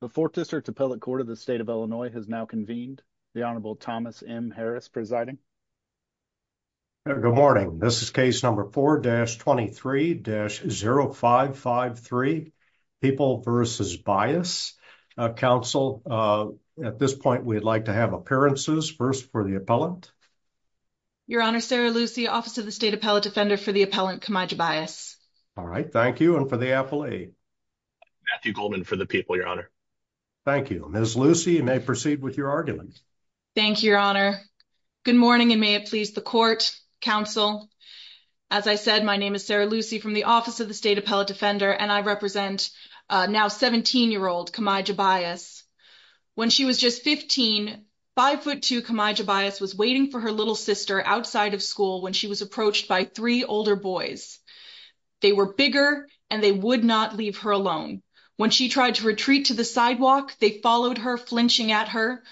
The Fourth District Appellate Court of the State of Illinois has now convened. The Honorable Thomas M. Harris presiding. Good morning. This is case number 4-23-0553, People v. Bias. Counsel, at this point we'd like to have appearances. First for the appellant. Your Honor, Sarah Lucy, Office of the State Appellate Defender for the appellant Kamijah Bias. All right. Thank you. And for the affilee. Matthew Goldman for the people, Your Honor. Thank you. Ms. Lucy, you may proceed with your argument. Thank you, Your Honor. Good morning, and may it please the Court, Counsel. As I said, my name is Sarah Lucy from the Office of the State Appellate Defender, and I represent now 17-year-old Kamijah Bias. When she was just 15, 5'2 Kamijah Bias was waiting for her little sister outside of school when she was approached by three older boys. They were bigger and they would not leave her alone. When she tried to retreat to the sidewalk, they followed her, flinching at her.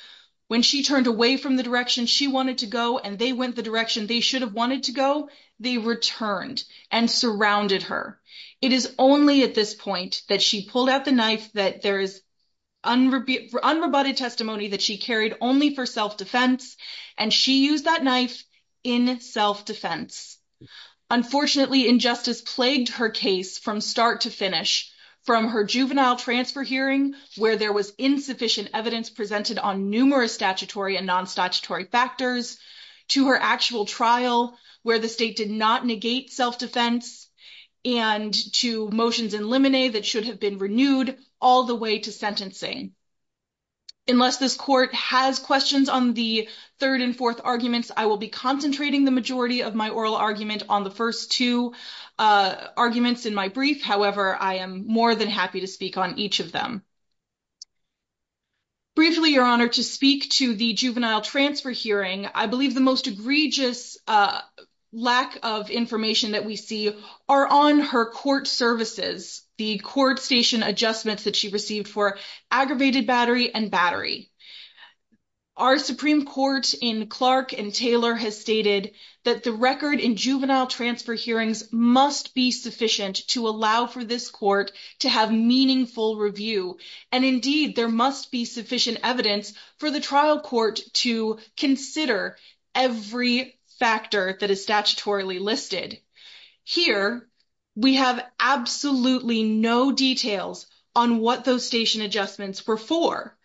When she turned away from the direction she wanted to go and they went the direction they should have wanted to go, they returned and surrounded her. It is only at this point that she pulled out the knife that there is unrebutted testimony that she carried only for self-defense, and she used that knife in self-defense. Unfortunately, injustice plagued her case from start to finish, from her juvenile transfer hearing, where there was insufficient evidence presented on numerous statutory and non-statutory factors, to her actual trial, where the state did not negate self-defense, and to motions in limine that should have been renewed, all the way to sentencing. Unless this Court has questions on the third and fourth arguments, I will be concentrating the majority of my oral argument on the first two arguments in my brief. However, I am more than happy to speak on each of them. Briefly, Your Honor, to speak to the juvenile transfer hearing, I believe the most egregious lack of information that we see are on her court services, the court station adjustments that she Clark and Taylor has stated that the record in juvenile transfer hearings must be sufficient to allow for this court to have meaningful review. Indeed, there must be sufficient evidence for the trial court to consider every factor that is statutorily listed. Here, we have absolutely no details on what those station adjustments were for.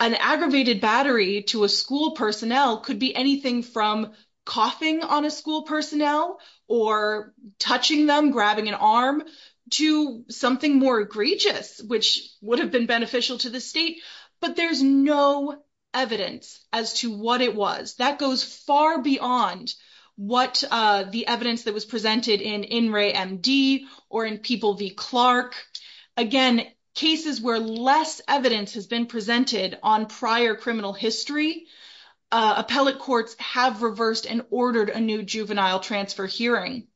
An aggravated battery to a school personnel could be anything from coughing on a school personnel, or touching them, grabbing an arm, to something more egregious, which would have been beneficial to the state. But there is no evidence as to what it was. That goes far beyond what the evidence that was presented in In Re MD, or in People v. Clark. Again, cases where less evidence has been presented on prior criminal history, appellate courts have reversed and ordered a new juvenile transfer hearing.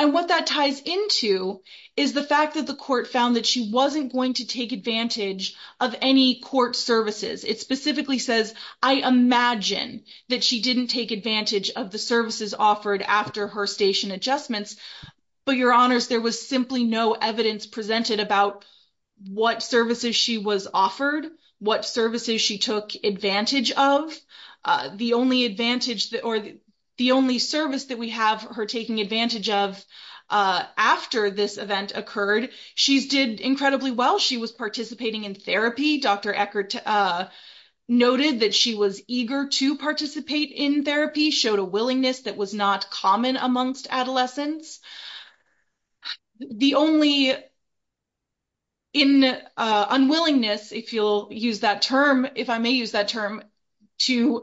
And what that ties into is the fact that the court found that she wasn't going to take advantage of any court services. It specifically says, I imagine that she didn't take advantage of the services offered after her station adjustments. But Your Honors, there was simply no evidence presented about what services she was offered, what services she took advantage of. The only service that we have her taking advantage of after this event occurred, she did incredibly well. She was participating in therapy. Dr. Eckert noted that she was eager to participate in therapy, showed a willingness that was not common amongst adolescents. The only unwillingness, if you'll use that term, if I may use that term, to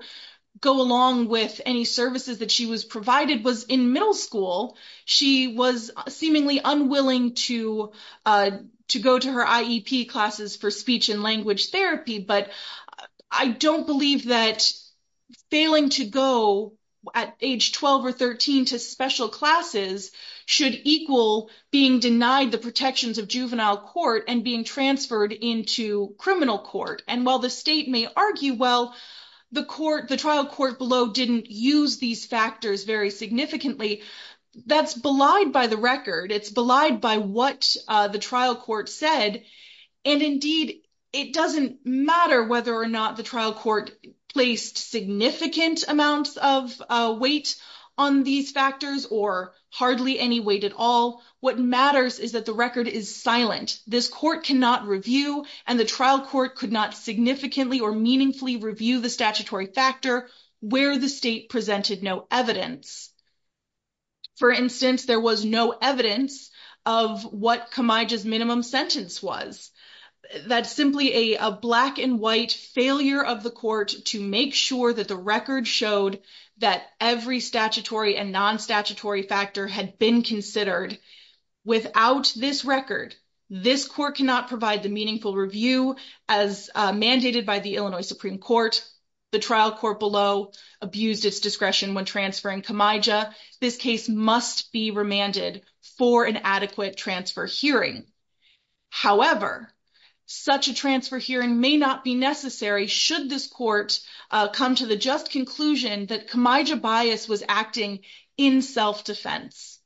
go along with any services that she was provided was in middle school. She was seemingly unwilling to go to her IEP classes for speech and language therapy. But I don't believe that failing to go at age 12 or 13 to special classes should equal being denied the protections of juvenile court and being transferred into criminal court. And while the state may argue, well, the trial court below didn't use these factors very significantly, that's belied by the record. It's belied by what the trial court said. And indeed, it doesn't matter whether or not the court placed significant amounts of weight on these factors or hardly any weight at all. What matters is that the record is silent. This court cannot review, and the trial court could not significantly or meaningfully review the statutory factor where the state presented no evidence. For instance, there was no evidence of what Camaija's minimum sentence was. That's simply a black and white failure of the court to make sure that the record showed that every statutory and non-statutory factor had been considered. Without this record, this court cannot provide the meaningful review as mandated by the Illinois Supreme Court. The trial court below abused its discretion when transferring Camaija. This case must be remanded for an adequate transfer hearing. However, such a transfer hearing may not be necessary should this court come to the just conclusion that Camaija bias was acting in self-defense.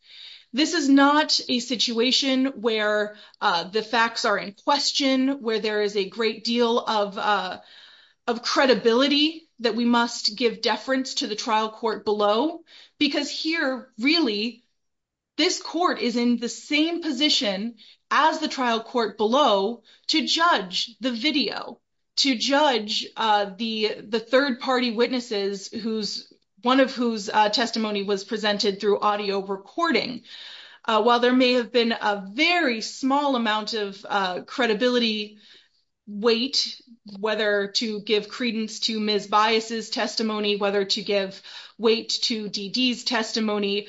This is not a situation where the facts are in question, where there is a great deal of credibility that we must give deference to the trial court below. Because here, really, this court is in the same position as the trial court below to judge the video, to judge the third-party witnesses, one of whose testimony was presented through audio recording. While there may have been a small amount of credibility weight, whether to give credence to Ms. Bias' testimony, whether to give weight to D.D.'s testimony,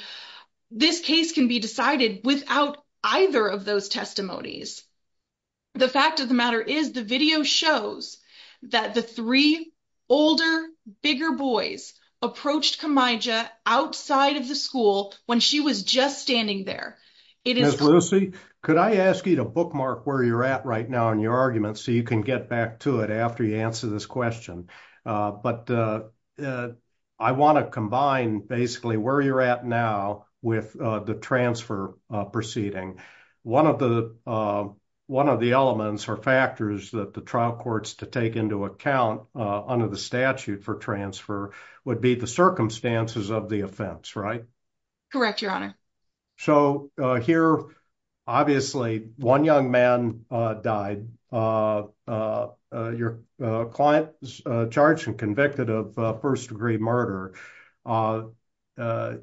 this case can be decided without either of those testimonies. The fact of the matter is the video shows that the three older, bigger boys approached Camaija outside of the school when she was just standing there. Ms. Lucey, could I ask you to bookmark where you're at right now in your argument so you can get back to it after you answer this question? But I want to combine basically where you're at now with the transfer proceeding. One of the elements or factors that the trial courts to take into account under the statute for transfer would be the circumstances of the offense, right? Correct, Your Honor. So here, obviously, one young man died. Your client is charged and convicted of first-degree murder.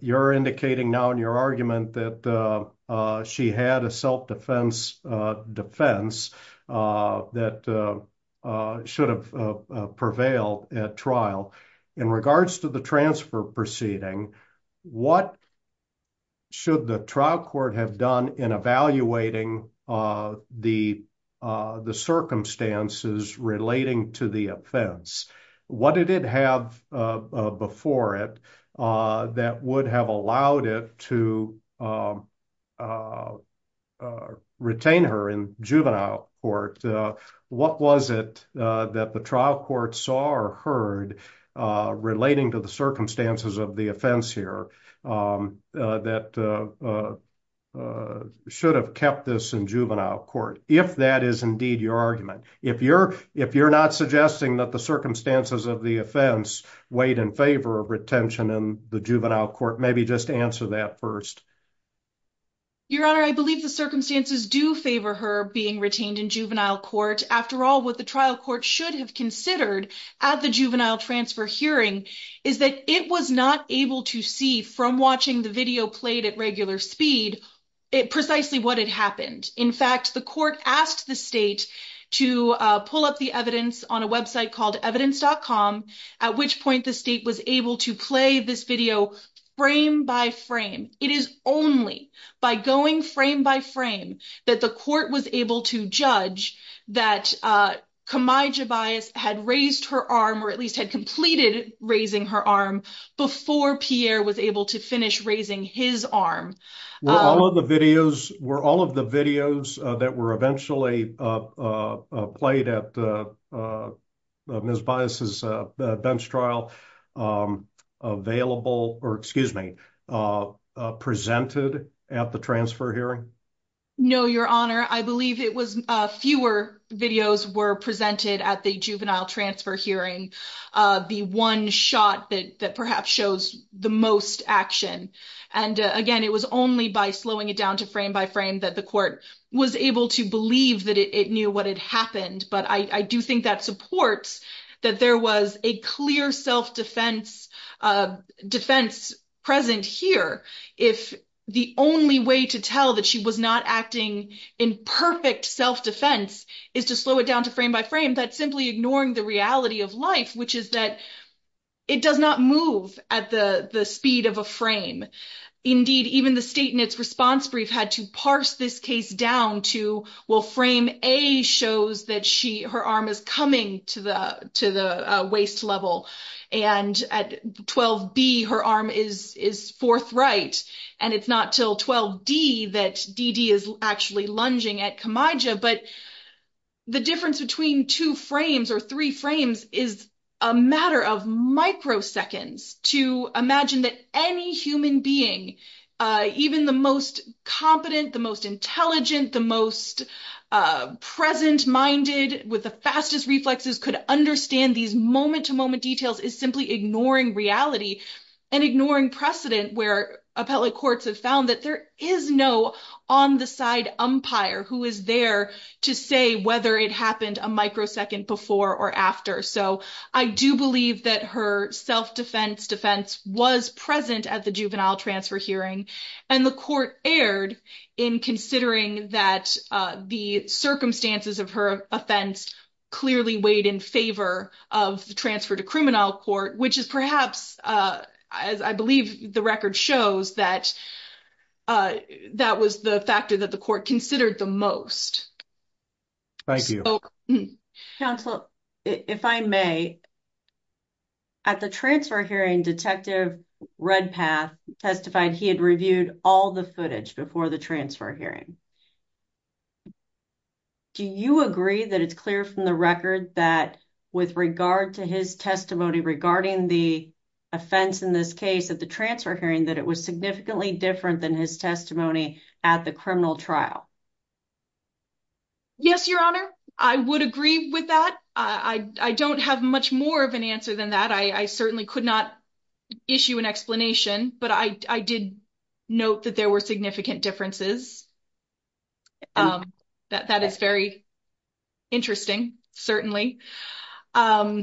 You're indicating now in your argument that she had a self-defense defense that should prevail at trial. In regards to the transfer proceeding, what should the trial court have done in evaluating the circumstances relating to the offense? What did it have before it that would have allowed it to retain her in juvenile court? What was it that the trial court saw or heard relating to the circumstances of the offense here that should have kept this in juvenile court, if that is indeed your argument? If you're not suggesting that the circumstances of the offense weighed in favor of retention in the juvenile court, maybe just answer that first. Your Honor, I believe the circumstances do favor her being retained in juvenile court. After all, what the trial court should have considered at the juvenile transfer hearing is that it was not able to see from watching the video played at regular speed precisely what had happened. In fact, the court asked the state to pull up the evidence on a point the state was able to play this video frame by frame. It is only by going frame by frame that the court was able to judge that Kamai Jebias had raised her arm or at least had completed raising her arm before Pierre was able to finish raising his arm. Were all of the videos that were potentially played at Ms. Jebias' bench trial presented at the transfer hearing? No, Your Honor. I believe fewer videos were presented at the juvenile transfer hearing, the one shot that perhaps shows the most action. Again, it was only by slowing it down to frame by frame that the court was able to believe that it knew what had happened. But I do think that supports that there was a clear self-defense present here. If the only way to tell that she was not acting in perfect self-defense is to slow it down to frame by frame, that's simply ignoring the reality of life, which is that it does not move at the speed of a frame. Indeed, even the state in its response brief had to parse this case down to, well, frame A shows that her arm is coming to the waist level. And at 12B, her arm is forthright. And it's not till 12D that Dee Dee is actually lunging at Kamai Jebias. But the difference between two frames or three frames is a matter of microseconds to imagine that any human being, even the most competent, the most intelligent, the most present-minded with the fastest reflexes could understand these moment-to-moment details is simply ignoring reality and ignoring precedent where appellate courts have found that there is no on-the-side umpire who is there to say whether it happened a microsecond before or after. I do believe that her self-defense defense was present at the juvenile transfer hearing. And the court erred in considering that the circumstances of her offense clearly weighed in favor of the transfer to criminal court, which is perhaps, as I believe the record shows, that was the factor that the court considered the most. Thank you. Counsel, if I may, at the transfer hearing, Detective Redpath testified he had reviewed all the footage before the transfer hearing. Do you agree that it's clear from the record that with regard to his testimony regarding the offense in this case at the transfer hearing that it was significantly different than his testimony at the criminal trial? Yes, Your Honor. I would agree with that. I don't have much more of an answer than that. I certainly could not issue an explanation, but I did note that there were significant differences. That is very interesting, certainly. Part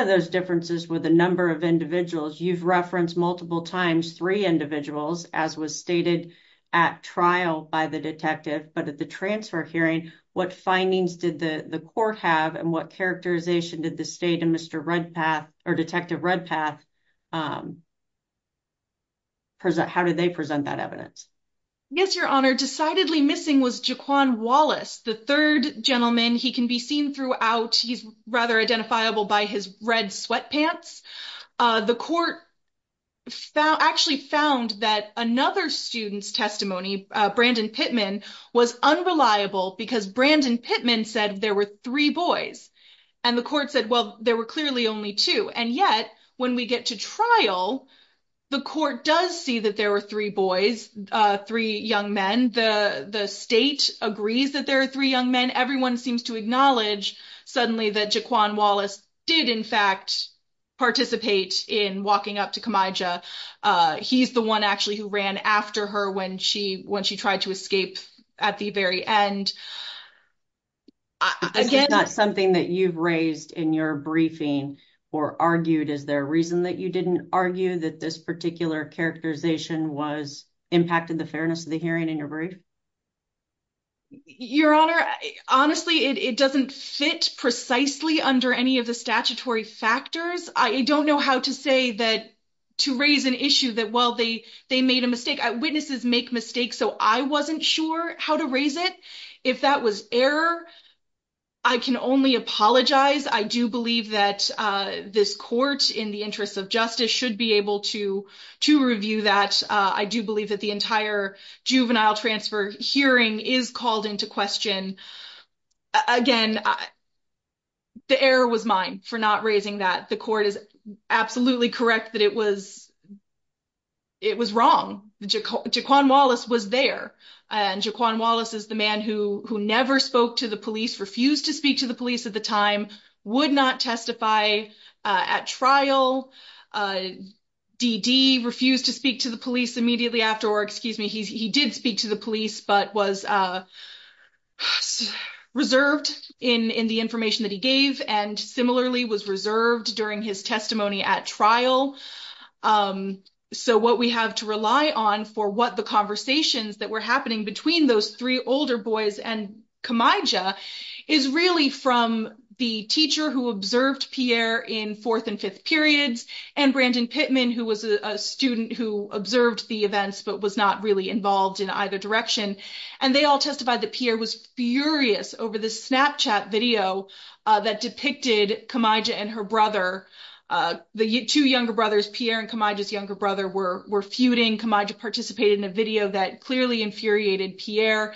of those differences were the number of individuals. You've referenced multiple times three individuals, as was stated at trial by the detective. But at the transfer hearing, what findings did the court have and what characterization did the state and Detective Redpath present? How did they present that evidence? Yes, Your Honor. Decidedly missing was Jaquan Wallace, the third gentleman. He can be seen throughout. He's rather identifiable by his red sweatpants. The court actually found that another student's testimony, Brandon Pittman, was unreliable because Brandon Pittman said there were three boys and the court said, well, there were clearly only two. And yet when we get to trial, the court does see that there were three boys, three young men. The state agrees that there are three young men. Everyone seems to acknowledge suddenly that Jaquan Wallace did, in fact, participate in walking up to Kamijah. He's the one actually who ran after her when she tried to escape at the very end. Is that something that you've raised in your briefing or argued? Is there a reason that you didn't argue that this particular characterization impacted the fairness of the hearing in your brief? Your Honor, honestly, it doesn't fit precisely under any of the statutory factors. I don't know how to say that to raise an issue that, well, they made a mistake. Witnesses make mistakes, so I wasn't sure how to raise it. If that was error, I can only apologize. I do believe that this court, in the interest of justice, should be able to review that. I do believe that the entire juvenile transfer hearing is called into question. Again, the error was mine for not raising that. The court is absolutely correct that it was wrong. Jaquan Wallace was there. And Jaquan Wallace is the man who never spoke to the police, refused to speak to the police at the time, would not testify at trial. D.D. refused to speak to the police immediately after, or excuse me, he did speak to the police but was reserved in the information that he gave and similarly was reserved during his testimony at trial. So what we have to rely on for what the conversations that were happening between those three older boys and Khamija is really from the teacher who observed Pierre in fourth and fifth periods and Brandon Pittman, who was a student who observed the events but was not really involved in either direction. And they all testified that Pierre was furious over the Snapchat video that depicted Khamija and her brother, the two younger brothers, Pierre and clearly infuriated Pierre.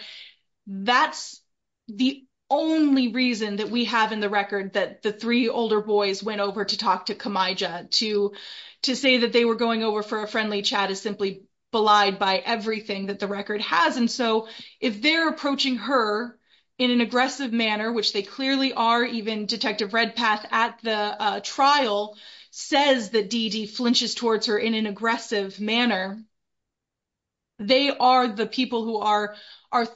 That's the only reason that we have in the record that the three older boys went over to talk to Khamija. To say that they were going over for a friendly chat is simply belied by everything that the record has. And so if they're approaching her in an aggressive manner, which they clearly are, even Detective Redpath at the trial says that D.D. flinches towards her in aggressive manner, they are the people who are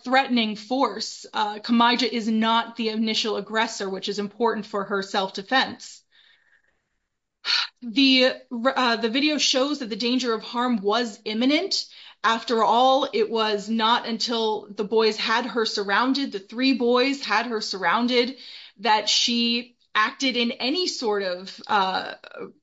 threatening force. Khamija is not the initial aggressor, which is important for her self-defense. The video shows that the danger of harm was imminent. After all, it was not until the boys had her surrounded, the three boys had her surrounded, that she acted in any sort of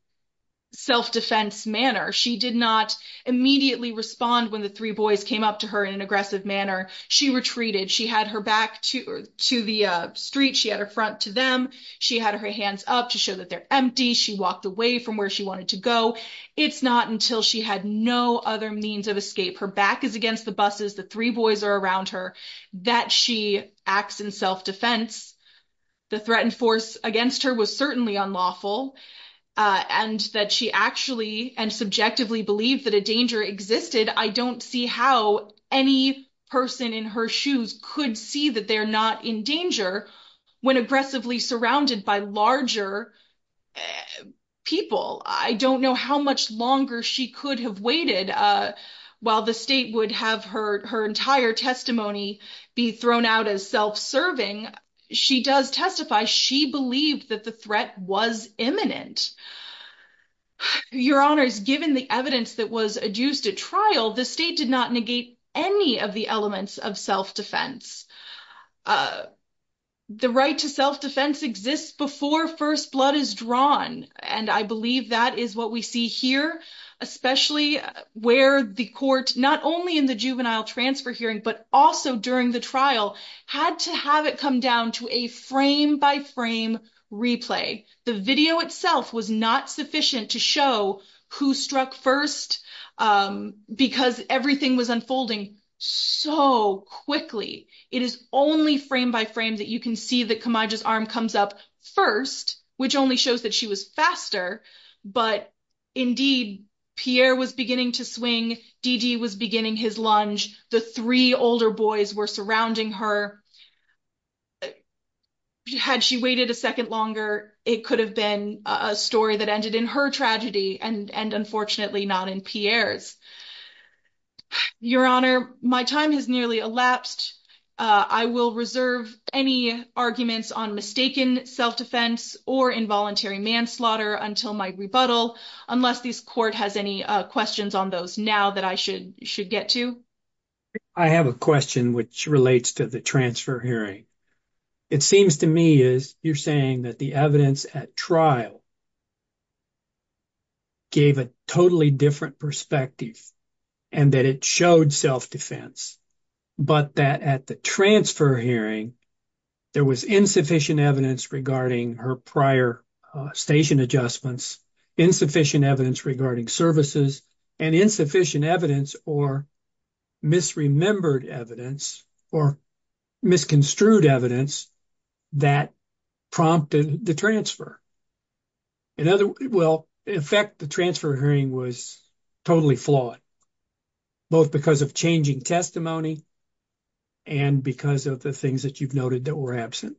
self-defense manner. She did not immediately respond when the three boys came up to her in an aggressive manner. She retreated. She had her back to the street. She had her front to them. She had her hands up to show that they're empty. She walked away from where she wanted to go. It's not until she had no other means of escape, her back is against the buses, the three boys are around her, that she acts in self-defense. The threatened force against her was certainly unlawful. And that she actually and subjectively believed that a danger existed, I don't see how any person in her shoes could see that they're not in danger when aggressively surrounded by larger people. I don't know how much longer she could have waited while the state would have her entire testimony be thrown out as self-serving. She does testify, she believed that the threat was imminent. Your honors, given the evidence that was adduced at trial, the state did not negate any of the elements of self-defense. The right to self-defense exists before first blood is drawn. And I believe that is what we see here, especially where the court, not only in the juvenile transfer hearing, but also during the trial, had to have it come down to a frame-by-frame replay. The video itself was not sufficient to show who struck first, because everything was unfolding so quickly. It is only frame-by-frame that you can see that Kamaja's arm comes up first, which only shows that she was faster. But indeed, Pierre was beginning to swing, Dede was beginning his lunge, the three older boys were surrounding her. Had she waited a second longer, it could have been a story that ended in her tragedy, and unfortunately not in Pierre's. Your honor, my time has nearly elapsed. I will reserve any arguments on mistaken self-defense or involuntary manslaughter until my rebuttal, unless this court has any questions on those now that I should get to. I have a question which relates to the transfer hearing. It seems to me, as you're saying, that the evidence at trial gave a totally different perspective, and that it showed self-defense, but that at the transfer hearing, there was insufficient evidence regarding her prior station adjustments, insufficient evidence regarding services, and insufficient evidence or misremembered evidence or misconstrued evidence that prompted the transfer. In fact, the transfer hearing was totally flawed, both because of changing testimony and because of the things that you've noted that were absent.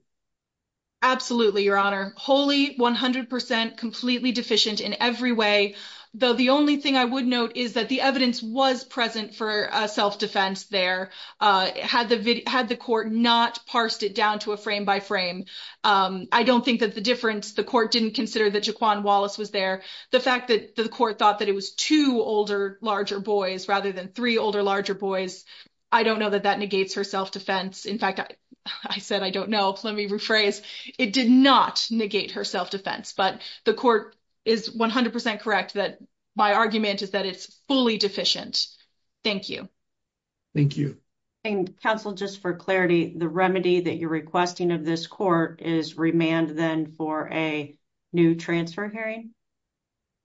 Absolutely, your honor. Wholly, 100%, completely deficient in every way, though the only thing I would note is that the evidence was present for self-defense there, had the court not parsed it down to a frame by frame. I don't think that the difference didn't consider that Jaquan Wallace was there. The fact that the court thought that it was two older, larger boys rather than three older, larger boys, I don't know that that negates her self-defense. In fact, I said I don't know. Let me rephrase. It did not negate her self-defense, but the court is 100% correct that my argument is that it's fully deficient. Thank you. Thank you. Counsel, just for clarity, the remedy that you're requesting of this court is remand then for a new transfer hearing?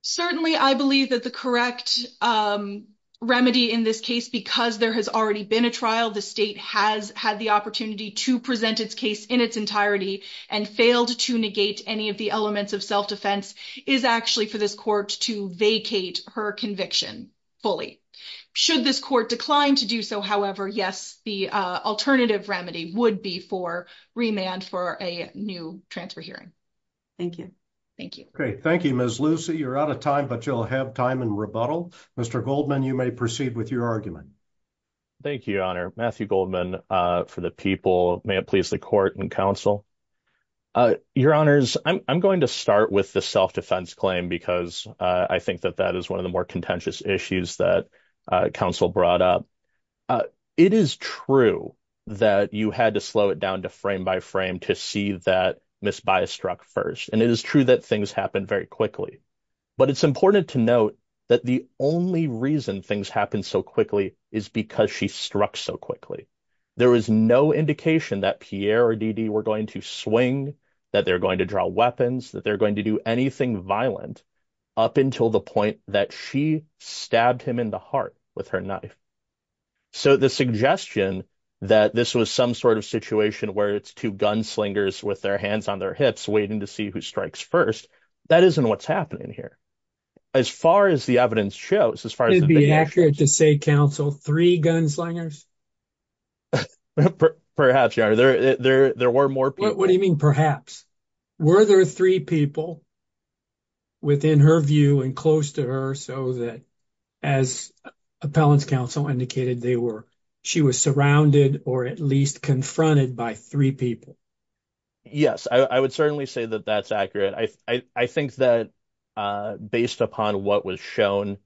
Certainly. I believe that the correct remedy in this case, because there has already been a trial, the state has had the opportunity to present its case in its entirety and failed to negate any of the elements of self-defense, is actually for this court to vacate her conviction fully. Should this court decline to do so, however, yes, the alternative remedy would be for remand for a new transfer hearing. Thank you. Thank you. Okay. Thank you, Ms. Lucy. You're out of time, but you'll have time in rebuttal. Mr. Goldman, you may proceed with your argument. Thank you, Your Honor. Matthew Goldman for the people. May it please the court and counsel. Your Honors, I'm going to start with the self-defense claim because I think that that is the more contentious issues that counsel brought up. It is true that you had to slow it down to frame by frame to see that Ms. Baez struck first. And it is true that things happen very quickly, but it's important to note that the only reason things happen so quickly is because she struck so quickly. There was no indication that Pierre or Dede were going to swing, that they're going to weapons, that they're going to do anything violent up until the point that she stabbed him in the heart with her knife. So the suggestion that this was some sort of situation where it's two gunslingers with their hands on their hips waiting to see who strikes first, that isn't what's happening here. As far as the evidence shows, as far as it would be accurate to say, counsel, three gunslingers? Perhaps, Your Honor. There were more people. What do you mean perhaps? Were there three people within her view and close to her so that, as appellant's counsel indicated, she was surrounded or at least confronted by three people? Yes, I would certainly say that that's accurate. I think that based upon what was shown,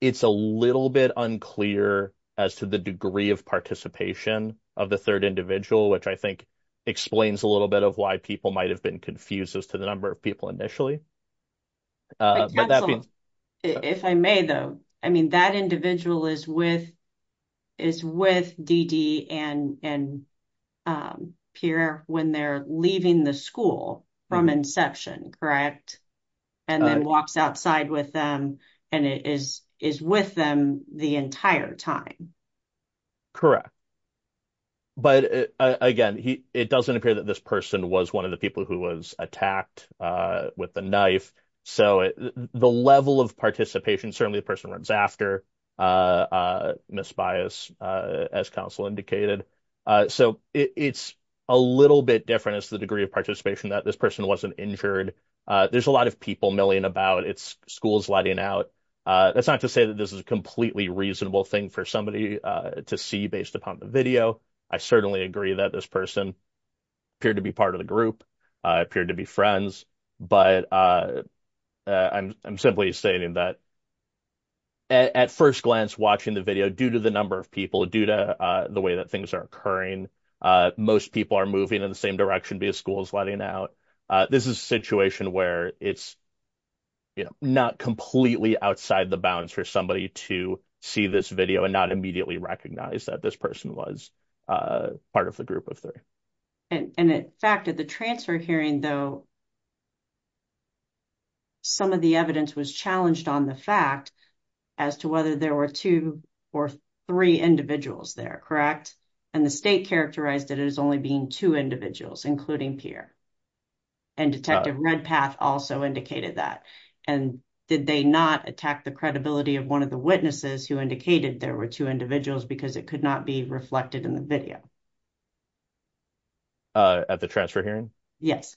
it's a little bit unclear as to the degree of participation of the third individual, which I think explains a little bit of why people might have been confused as to the number of people initially. If I may, though, I mean, that individual is with Dede and Pierre when they're leaving the school from inception, correct? And then walks outside with them and is with them the entire time. Correct. But again, it doesn't appear that this person was one of the people who was attacked with the knife. So the level of participation, certainly the person runs after misbias, as counsel indicated. So it's a little bit different as to the degree of participation that this person wasn't injured. There's a lot of people milling about. It's schools letting out. That's not to say that this is a completely reasonable thing for somebody to see based upon the video. I certainly agree that this person appeared to be part of the group, appeared to be friends. But I'm simply saying that at first glance, watching the video, due to the number of people, due to the way that things are occurring, most people are moving in the same direction via schools letting out. This is a situation where it's not completely outside the bounds for somebody to see this video and not immediately recognize that this person was part of the group of three. And in fact, at the transfer hearing, though, some of the evidence was challenged on the fact as to whether there were two or three individuals there, correct? And the state characterized it as only being two individuals, including Pierre. And Detective Redpath also indicated that. And did they not attack the credibility of one of the witnesses who indicated there were two individuals because it could not be reflected in the video? At the transfer hearing? Yes.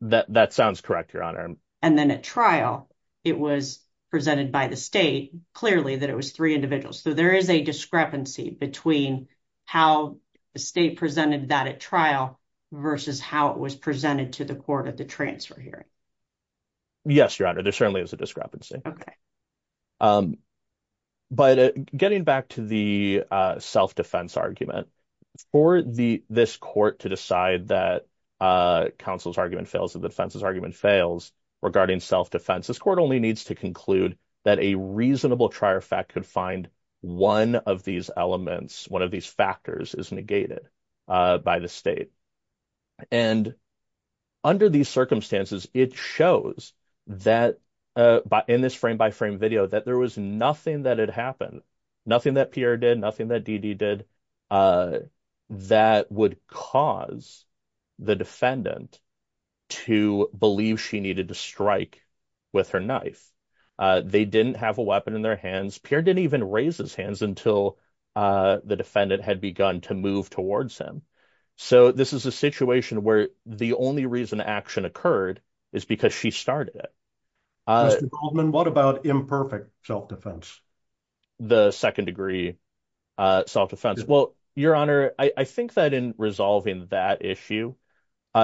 That sounds correct, Your Honor. And then at trial, it was presented by the state clearly that it was three individuals. So there is a discrepancy between how the state presented that at trial versus how it was presented to the court at the transfer hearing. Yes, Your Honor. There certainly is a discrepancy. Okay. But getting back to the self-defense argument, for this court to decide that counsel's argument fails and the defense's argument fails regarding self-defense, this court only needs to conclude that a reasonable trier fact could find one of these elements, one of these factors is negated by the state. And under these circumstances, it shows that in this frame-by-frame video, that there was nothing that had happened, nothing that Pierre did, nothing that Dede did, that would cause the defendant to believe she needed to strike with her knife. They didn't have a weapon in their hands. Pierre didn't even raise his hands until the defendant had begun to move towards him. So this is a situation where the only reason action occurred is because she started it. Mr. Goldman, what about imperfect self-defense? The second degree self-defense? Well, Your Honor, I think that in resolving that issue,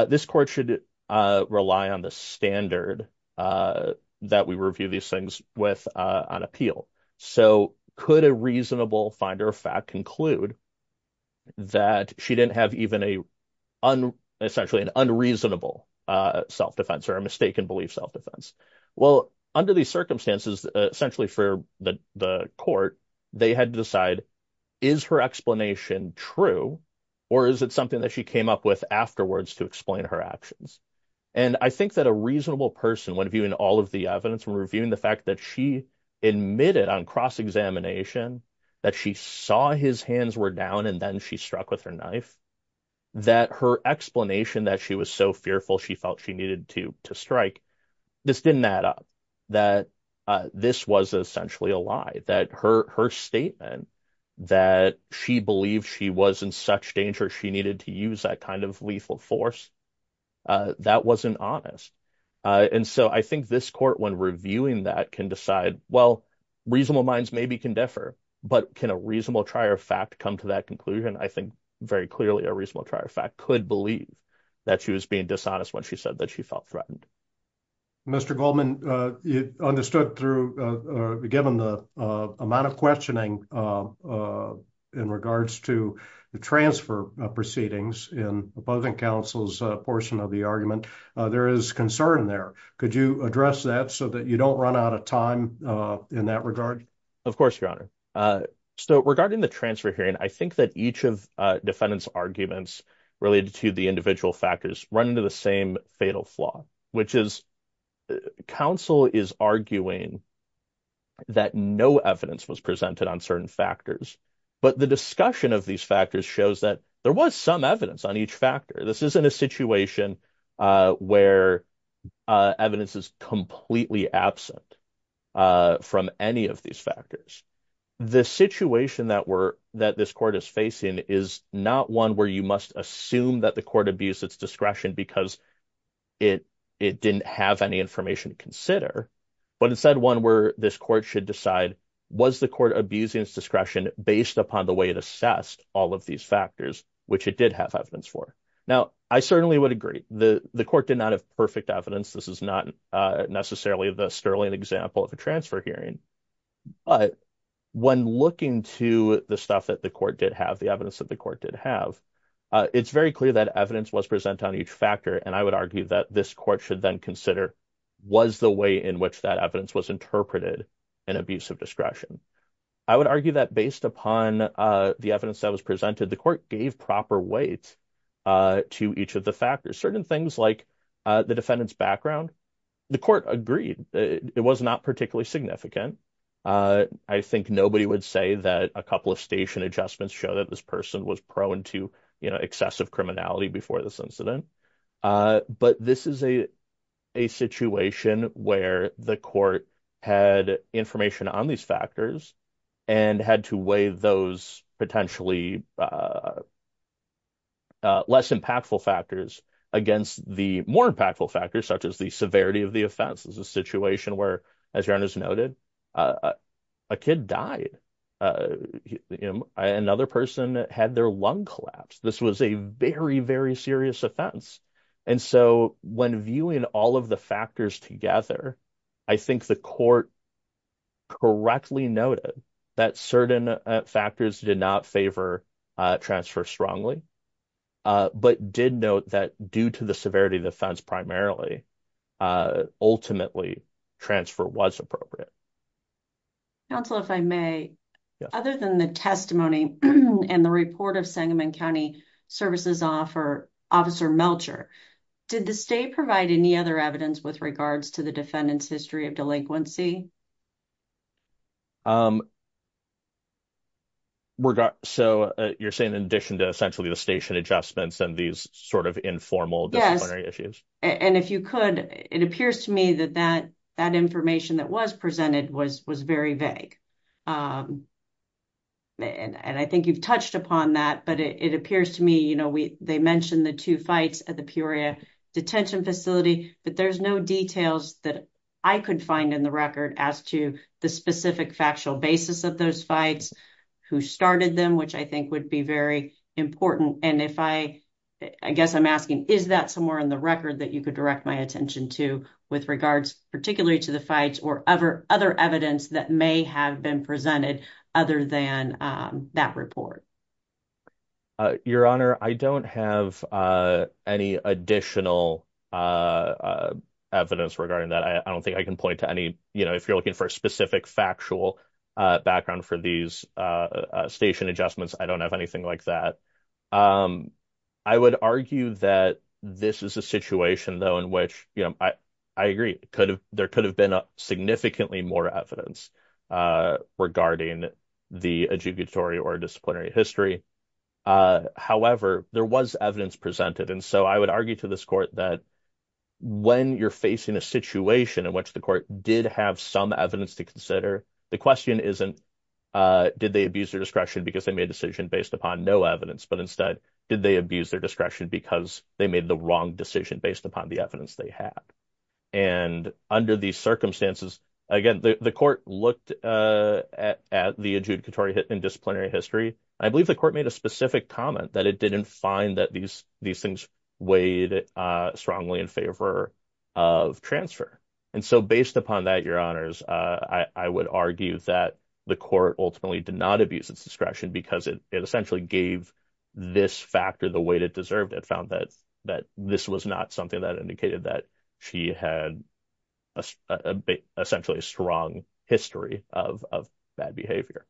this court should rely on the standard that we review these things with on appeal. So could a reasonable finder of fact conclude that she didn't have even essentially an unreasonable self-defense or a mistaken belief self-defense? Well, under these circumstances, essentially for the court, they had to decide, is her explanation true or is it something that she came up with afterwards to explain her actions? And I think that a reasonable person, when viewing all of the evidence, when reviewing the fact that she admitted on cross-examination that she saw his hands were down and then she struck with her knife, that her explanation that she was so fearful she felt she needed to strike, this didn't add up, that this was essentially a lie, that her statement that she believed she was in such danger she needed to use that kind of lethal force, that wasn't honest. And so I think this court, when reviewing that, can decide, well, reasonable minds maybe can differ, but can a reasonable trier of fact come to that conclusion? I think very clearly a reasonable trier of fact could believe that she was being dishonest when she said that she felt threatened. Mr. Goldman, it understood through, given the amount of questioning in regards to the transfer proceedings in opposing counsel's portion of the argument, there is concern there. Could you address that so that you don't run out of time in that regard? Of course, Your Honor. So regarding the transfer hearing, I think that each of defendants' arguments related to the individual factors run into the same fatal flaw, which is counsel is arguing that no evidence was presented on certain factors, but the discussion of these factors shows that there was some evidence on each factor. This isn't a situation where evidence is completely absent from any of these factors. The situation that this court is facing is not one where you assume that the court abused its discretion because it didn't have any information to consider, but instead one where this court should decide, was the court abusing its discretion based upon the way it assessed all of these factors, which it did have evidence for? Now, I certainly would agree. The court did not have perfect evidence. This is not necessarily the sterling example of a transfer hearing, but when looking to the stuff that the court did have, the evidence that the it's very clear that evidence was presented on each factor, and I would argue that this court should then consider, was the way in which that evidence was interpreted an abuse of discretion? I would argue that based upon the evidence that was presented, the court gave proper weight to each of the factors. Certain things like the defendant's background, the court agreed. It was not particularly significant. I think nobody would say that a couple of station adjustments show that this person was prone to excessive criminality before this incident, but this is a situation where the court had information on these factors and had to weigh those potentially less impactful factors against the more impactful factors, such as the severity of the offense. This is a situation where, as your Honor's noted, a kid died. Another person had their lung collapsed. This was a very, very serious offense, and so when viewing all of the factors together, I think the court correctly noted that certain factors did not favor transfer strongly, but did note that due to the severity of the offense primarily, ultimately transfer was appropriate. Counsel, if I may, other than the testimony and the report of Sangamon County Services Officer Melcher, did the state provide any other evidence with regards to the defendant's delinquency? So you're saying in addition to essentially the station adjustments and these sort of informal disciplinary issues? Yes, and if you could, it appears to me that that information that was presented was very vague, and I think you've touched upon that, but it appears to me, you know, they mentioned the two fights at the Peoria Detention Facility, but there's no details that I could find in the record as to the specific factual basis of those fights, who started them, which I think would be very important, and if I, I guess I'm asking, is that somewhere in the record that you could direct my attention to with regards particularly to the fights or other evidence that may have been presented other than that report? Your Honor, I don't have any additional evidence regarding that. I don't think I can point to any, you know, if you're looking for a specific factual background for these station adjustments, I don't have anything like that. I would argue that this is a situation, though, in which, you know, I agree, there could have been significantly more evidence regarding the adjugatory or disciplinary history. However, there was evidence presented, and so I would argue to this court that when you're facing a situation in which the court did have some evidence to consider, the question isn't, did they abuse their discretion because they made a decision based upon no evidence, but instead, did they abuse their discretion because they made the wrong decision based upon the evidence they had? And under these circumstances, again, the court looked at the adjudicatory and disciplinary history. I believe the court made a specific comment that it didn't find that these things weighed strongly in favor of transfer. And so based upon that, Your Honors, I would argue that the court ultimately did not abuse its discretion because it essentially gave this factor the weight it deserved. It found that this was not something that indicated that she had a essentially strong history of bad behavior.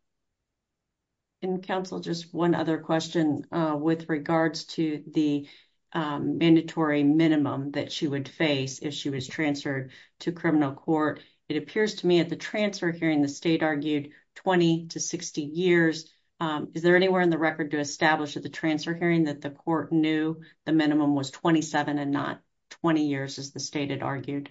In counsel, just one other question with regards to the mandatory minimum that she would face if she was transferred to criminal court. It appears to me at the transfer hearing, the state argued 20 to 60 years. Is there anywhere in the record to establish at the transfer hearing that the court knew the minimum was 27 and not 20 years, as the state had argued?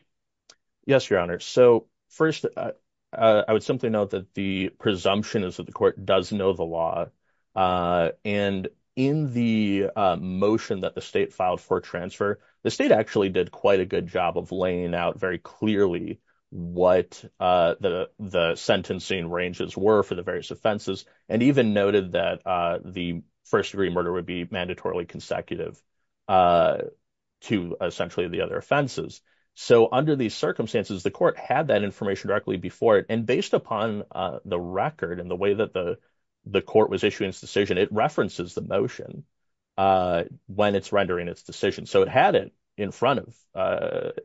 Yes, Your Honor. So first, I would simply note that the presumption is that the court does know the law. And in the motion that the state filed for transfer, the state actually did quite a good job of laying out very clearly what the sentencing ranges were for the various offenses, and even noted that the first degree murder would be mandatorily consecutive to essentially the other offenses. So under these circumstances, the court had that information directly before it. And based upon the record and the way that the court was issuing its decision, it references the motion when it's rendering its decision. So it had it in front of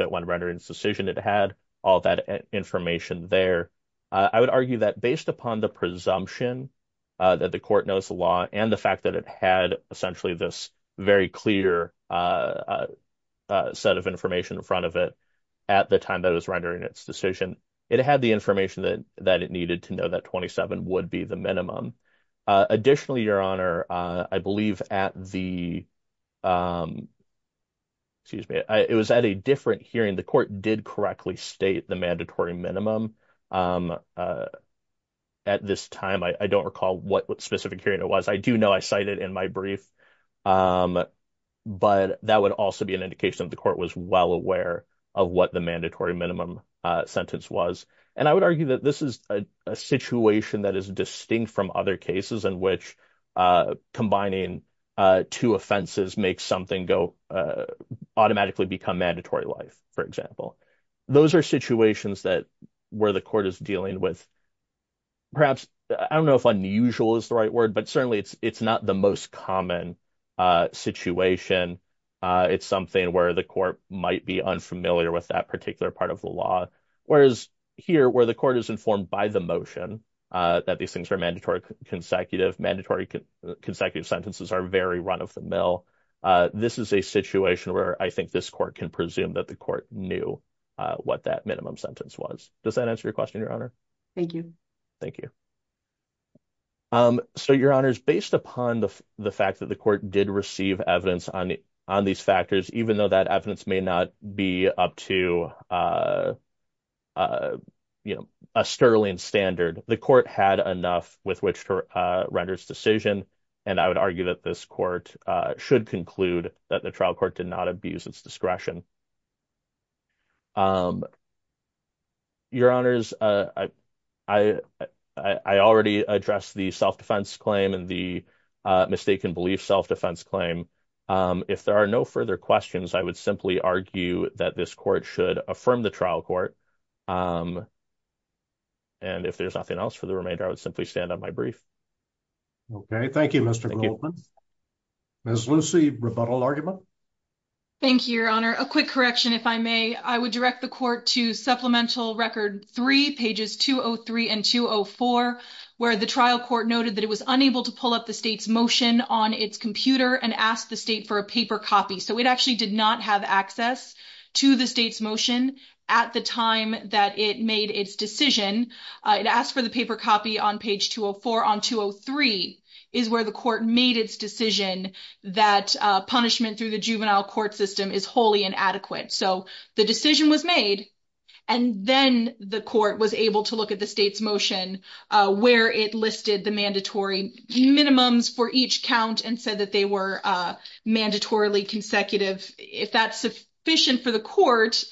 it when rendering its decision. It had all that information there. I would argue that based upon the presumption that the court knows the law and the fact that it had essentially this very clear set of information in front of it at the time that it was rendering its decision, it had the information that it needed to know that 27 would be the minimum. Additionally, Your Honor, I believe at the, excuse me, it was at a different hearing, the court did correctly state the mandatory minimum. At this time, I don't recall what specific hearing it was. I do know I cited in my brief. But that would also be an indication that the court was well aware of what the mandatory minimum sentence was. And I would argue that this is a situation that is distinct from other cases in which combining two offenses makes something go automatically become mandatory life, for example. Those are situations that where the court is dealing with, perhaps, I don't know if unusual is the right word, but certainly it's not the most common situation. It's something where the court might be unfamiliar with that particular part of the law. Whereas here where the court is informed by the motion that these things are mandatory consecutive sentences are very run of the mill. This is a situation where I think this court can presume that the court knew what that minimum sentence was. Does that answer your question, Your Honor? Thank you. Thank you. So, Your Honors, based upon the fact that the court did receive evidence on these factors, even though that evidence may not be up to a sterling standard, the court had enough with which to render its decision. And I would argue that this court should conclude that the trial court did not abuse its discretion. Your Honors, I already addressed the self-defense claim and the mistaken belief self-defense claim. If there are no further questions, I would simply argue that this court should affirm the trial court. And if there's nothing else for the remainder, I would simply stand on my brief. Okay. Thank you, Mr. Goldman. Ms. Lucy, rebuttal argument? Thank you, Your Honor. A quick correction, if I may. I would direct the court to Supplemental Record 3, pages 203 and 204, where the trial court noted that it was unable to pull up the state's motion on its computer and asked the state for a paper copy. So, it actually did not have access to the state's motion at the time that it made its decision. It asked for the paper copy on page 204. On 203 is where the court made its decision that punishment through the juvenile court system is wholly inadequate. So, the decision was made, and then the court was able to look at the state's motion where it listed the mandatory minimums for each count and said that they were mandatorily consecutive. If that's sufficient for the court,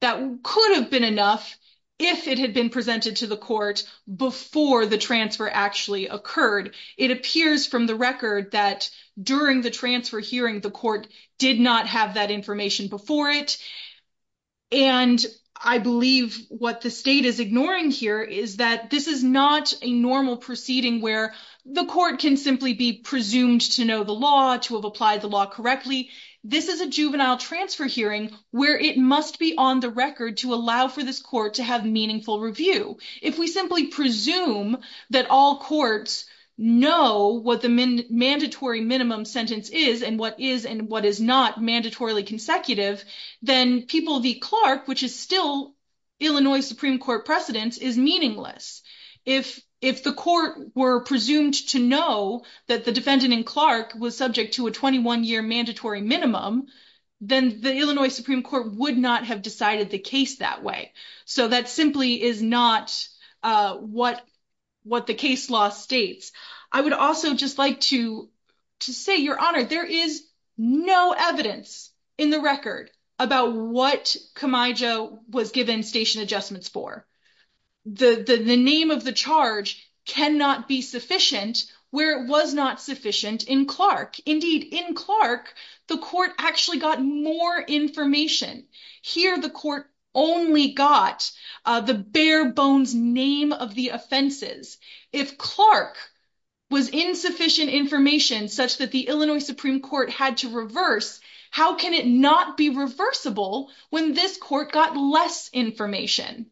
that could have been enough if it had been presented to the court before the transfer actually occurred. It appears from the record that during the transfer hearing, the court did not have that information before it. And I believe what the state is ignoring here is that this is not a normal proceeding where the court can simply be presumed to know the law, to have applied the law correctly. This is a juvenile transfer hearing where it must be on the record to allow for this court to have meaningful review. If we simply presume that all courts know what the mandatory minimum sentence is and what is and what is not mandatorily consecutive, then people v. Clark, which is still Illinois Supreme Court precedence, is meaningless. If the court were presumed to know that the defendant in Clark was subject to a 21-year mandatory minimum, then the Illinois Supreme Court would not have decided the case that way. So, that simply is not what the case law states. I would also just like to say, Your Honor, there is no evidence in the record about what Camaija was given station adjustments for. The name of the charge cannot be sufficient where it was not sufficient in Clark. Indeed, in Clark, the court actually got more information. Here, the court only got the bare-bones name of the offenses. If Clark was insufficient information such that the Illinois Supreme Court had to reverse, how can it not be reversible when this court got less information?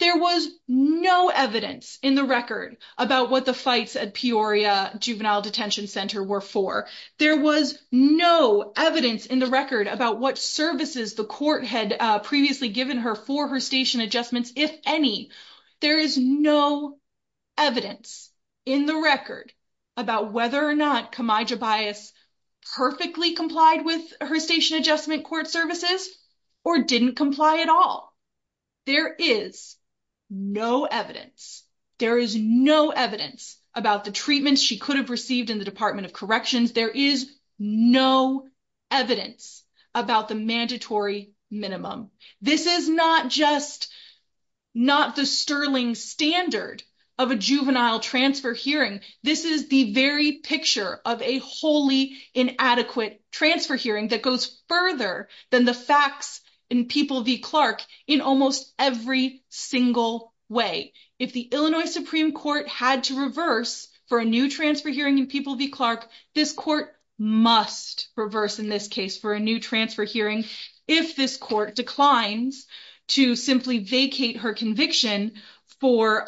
There was no evidence in the record about what the fights at Peoria Juvenile Detention Center were for. There was no evidence in the record about what services the court had previously given her for her station adjustments, if any. There is no evidence in the record about whether or not Camaija Bias perfectly complied with her station adjustment court services or didn't comply at all. There is no evidence. There is no evidence about the treatments she could have received in the Department of Corrections. There is no evidence about the mandatory minimum. This is not just not the sterling standard of a juvenile transfer hearing. This is the very picture of a wholly inadequate transfer hearing that goes further than the facts in People v. Clark in almost every single way. If the Illinois Supreme Court had to reverse for a new transfer hearing in People v. Clark, this court must reverse in this case for a new transfer hearing if this court declines to simply vacate her conviction for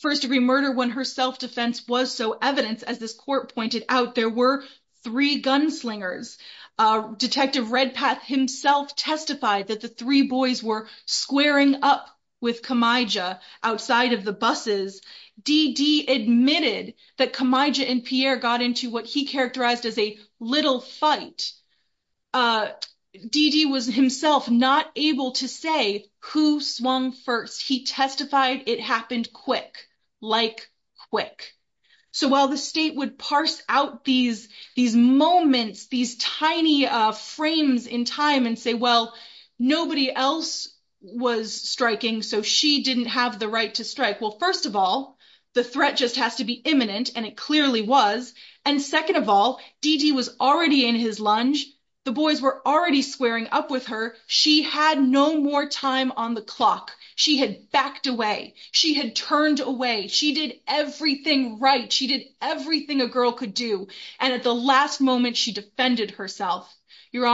first-degree murder when her self-defense was so evident, as this court pointed out. There were three gunslingers. Detective Redpath himself testified that the three boys were squaring up with Camaija outside of the buses. DeeDee admitted that Camaija and Pierre got into what he characterized as a little fight. DeeDee was himself not able to say who swung first. He testified it happened quick, like quick. So while the state would parse out these moments, these tiny frames in time and say, well, nobody else was striking, so she didn't have the right to strike. Well, first of all, the threat just has to be imminent, and it clearly was. And second of all, DeeDee was already in his lunge. The boys were already squaring up with her. She had no more time on the clock. She had backed away. She had turned away. She did everything right. She did everything a girl could do. And at the last moment, she defended herself. Your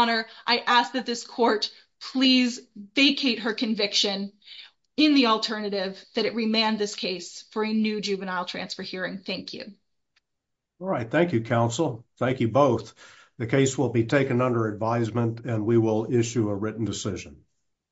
that it remand this case for a new juvenile transfer hearing. Thank you. All right. Thank you, counsel. Thank you both. The case will be taken under advisement, and we will issue a written decision.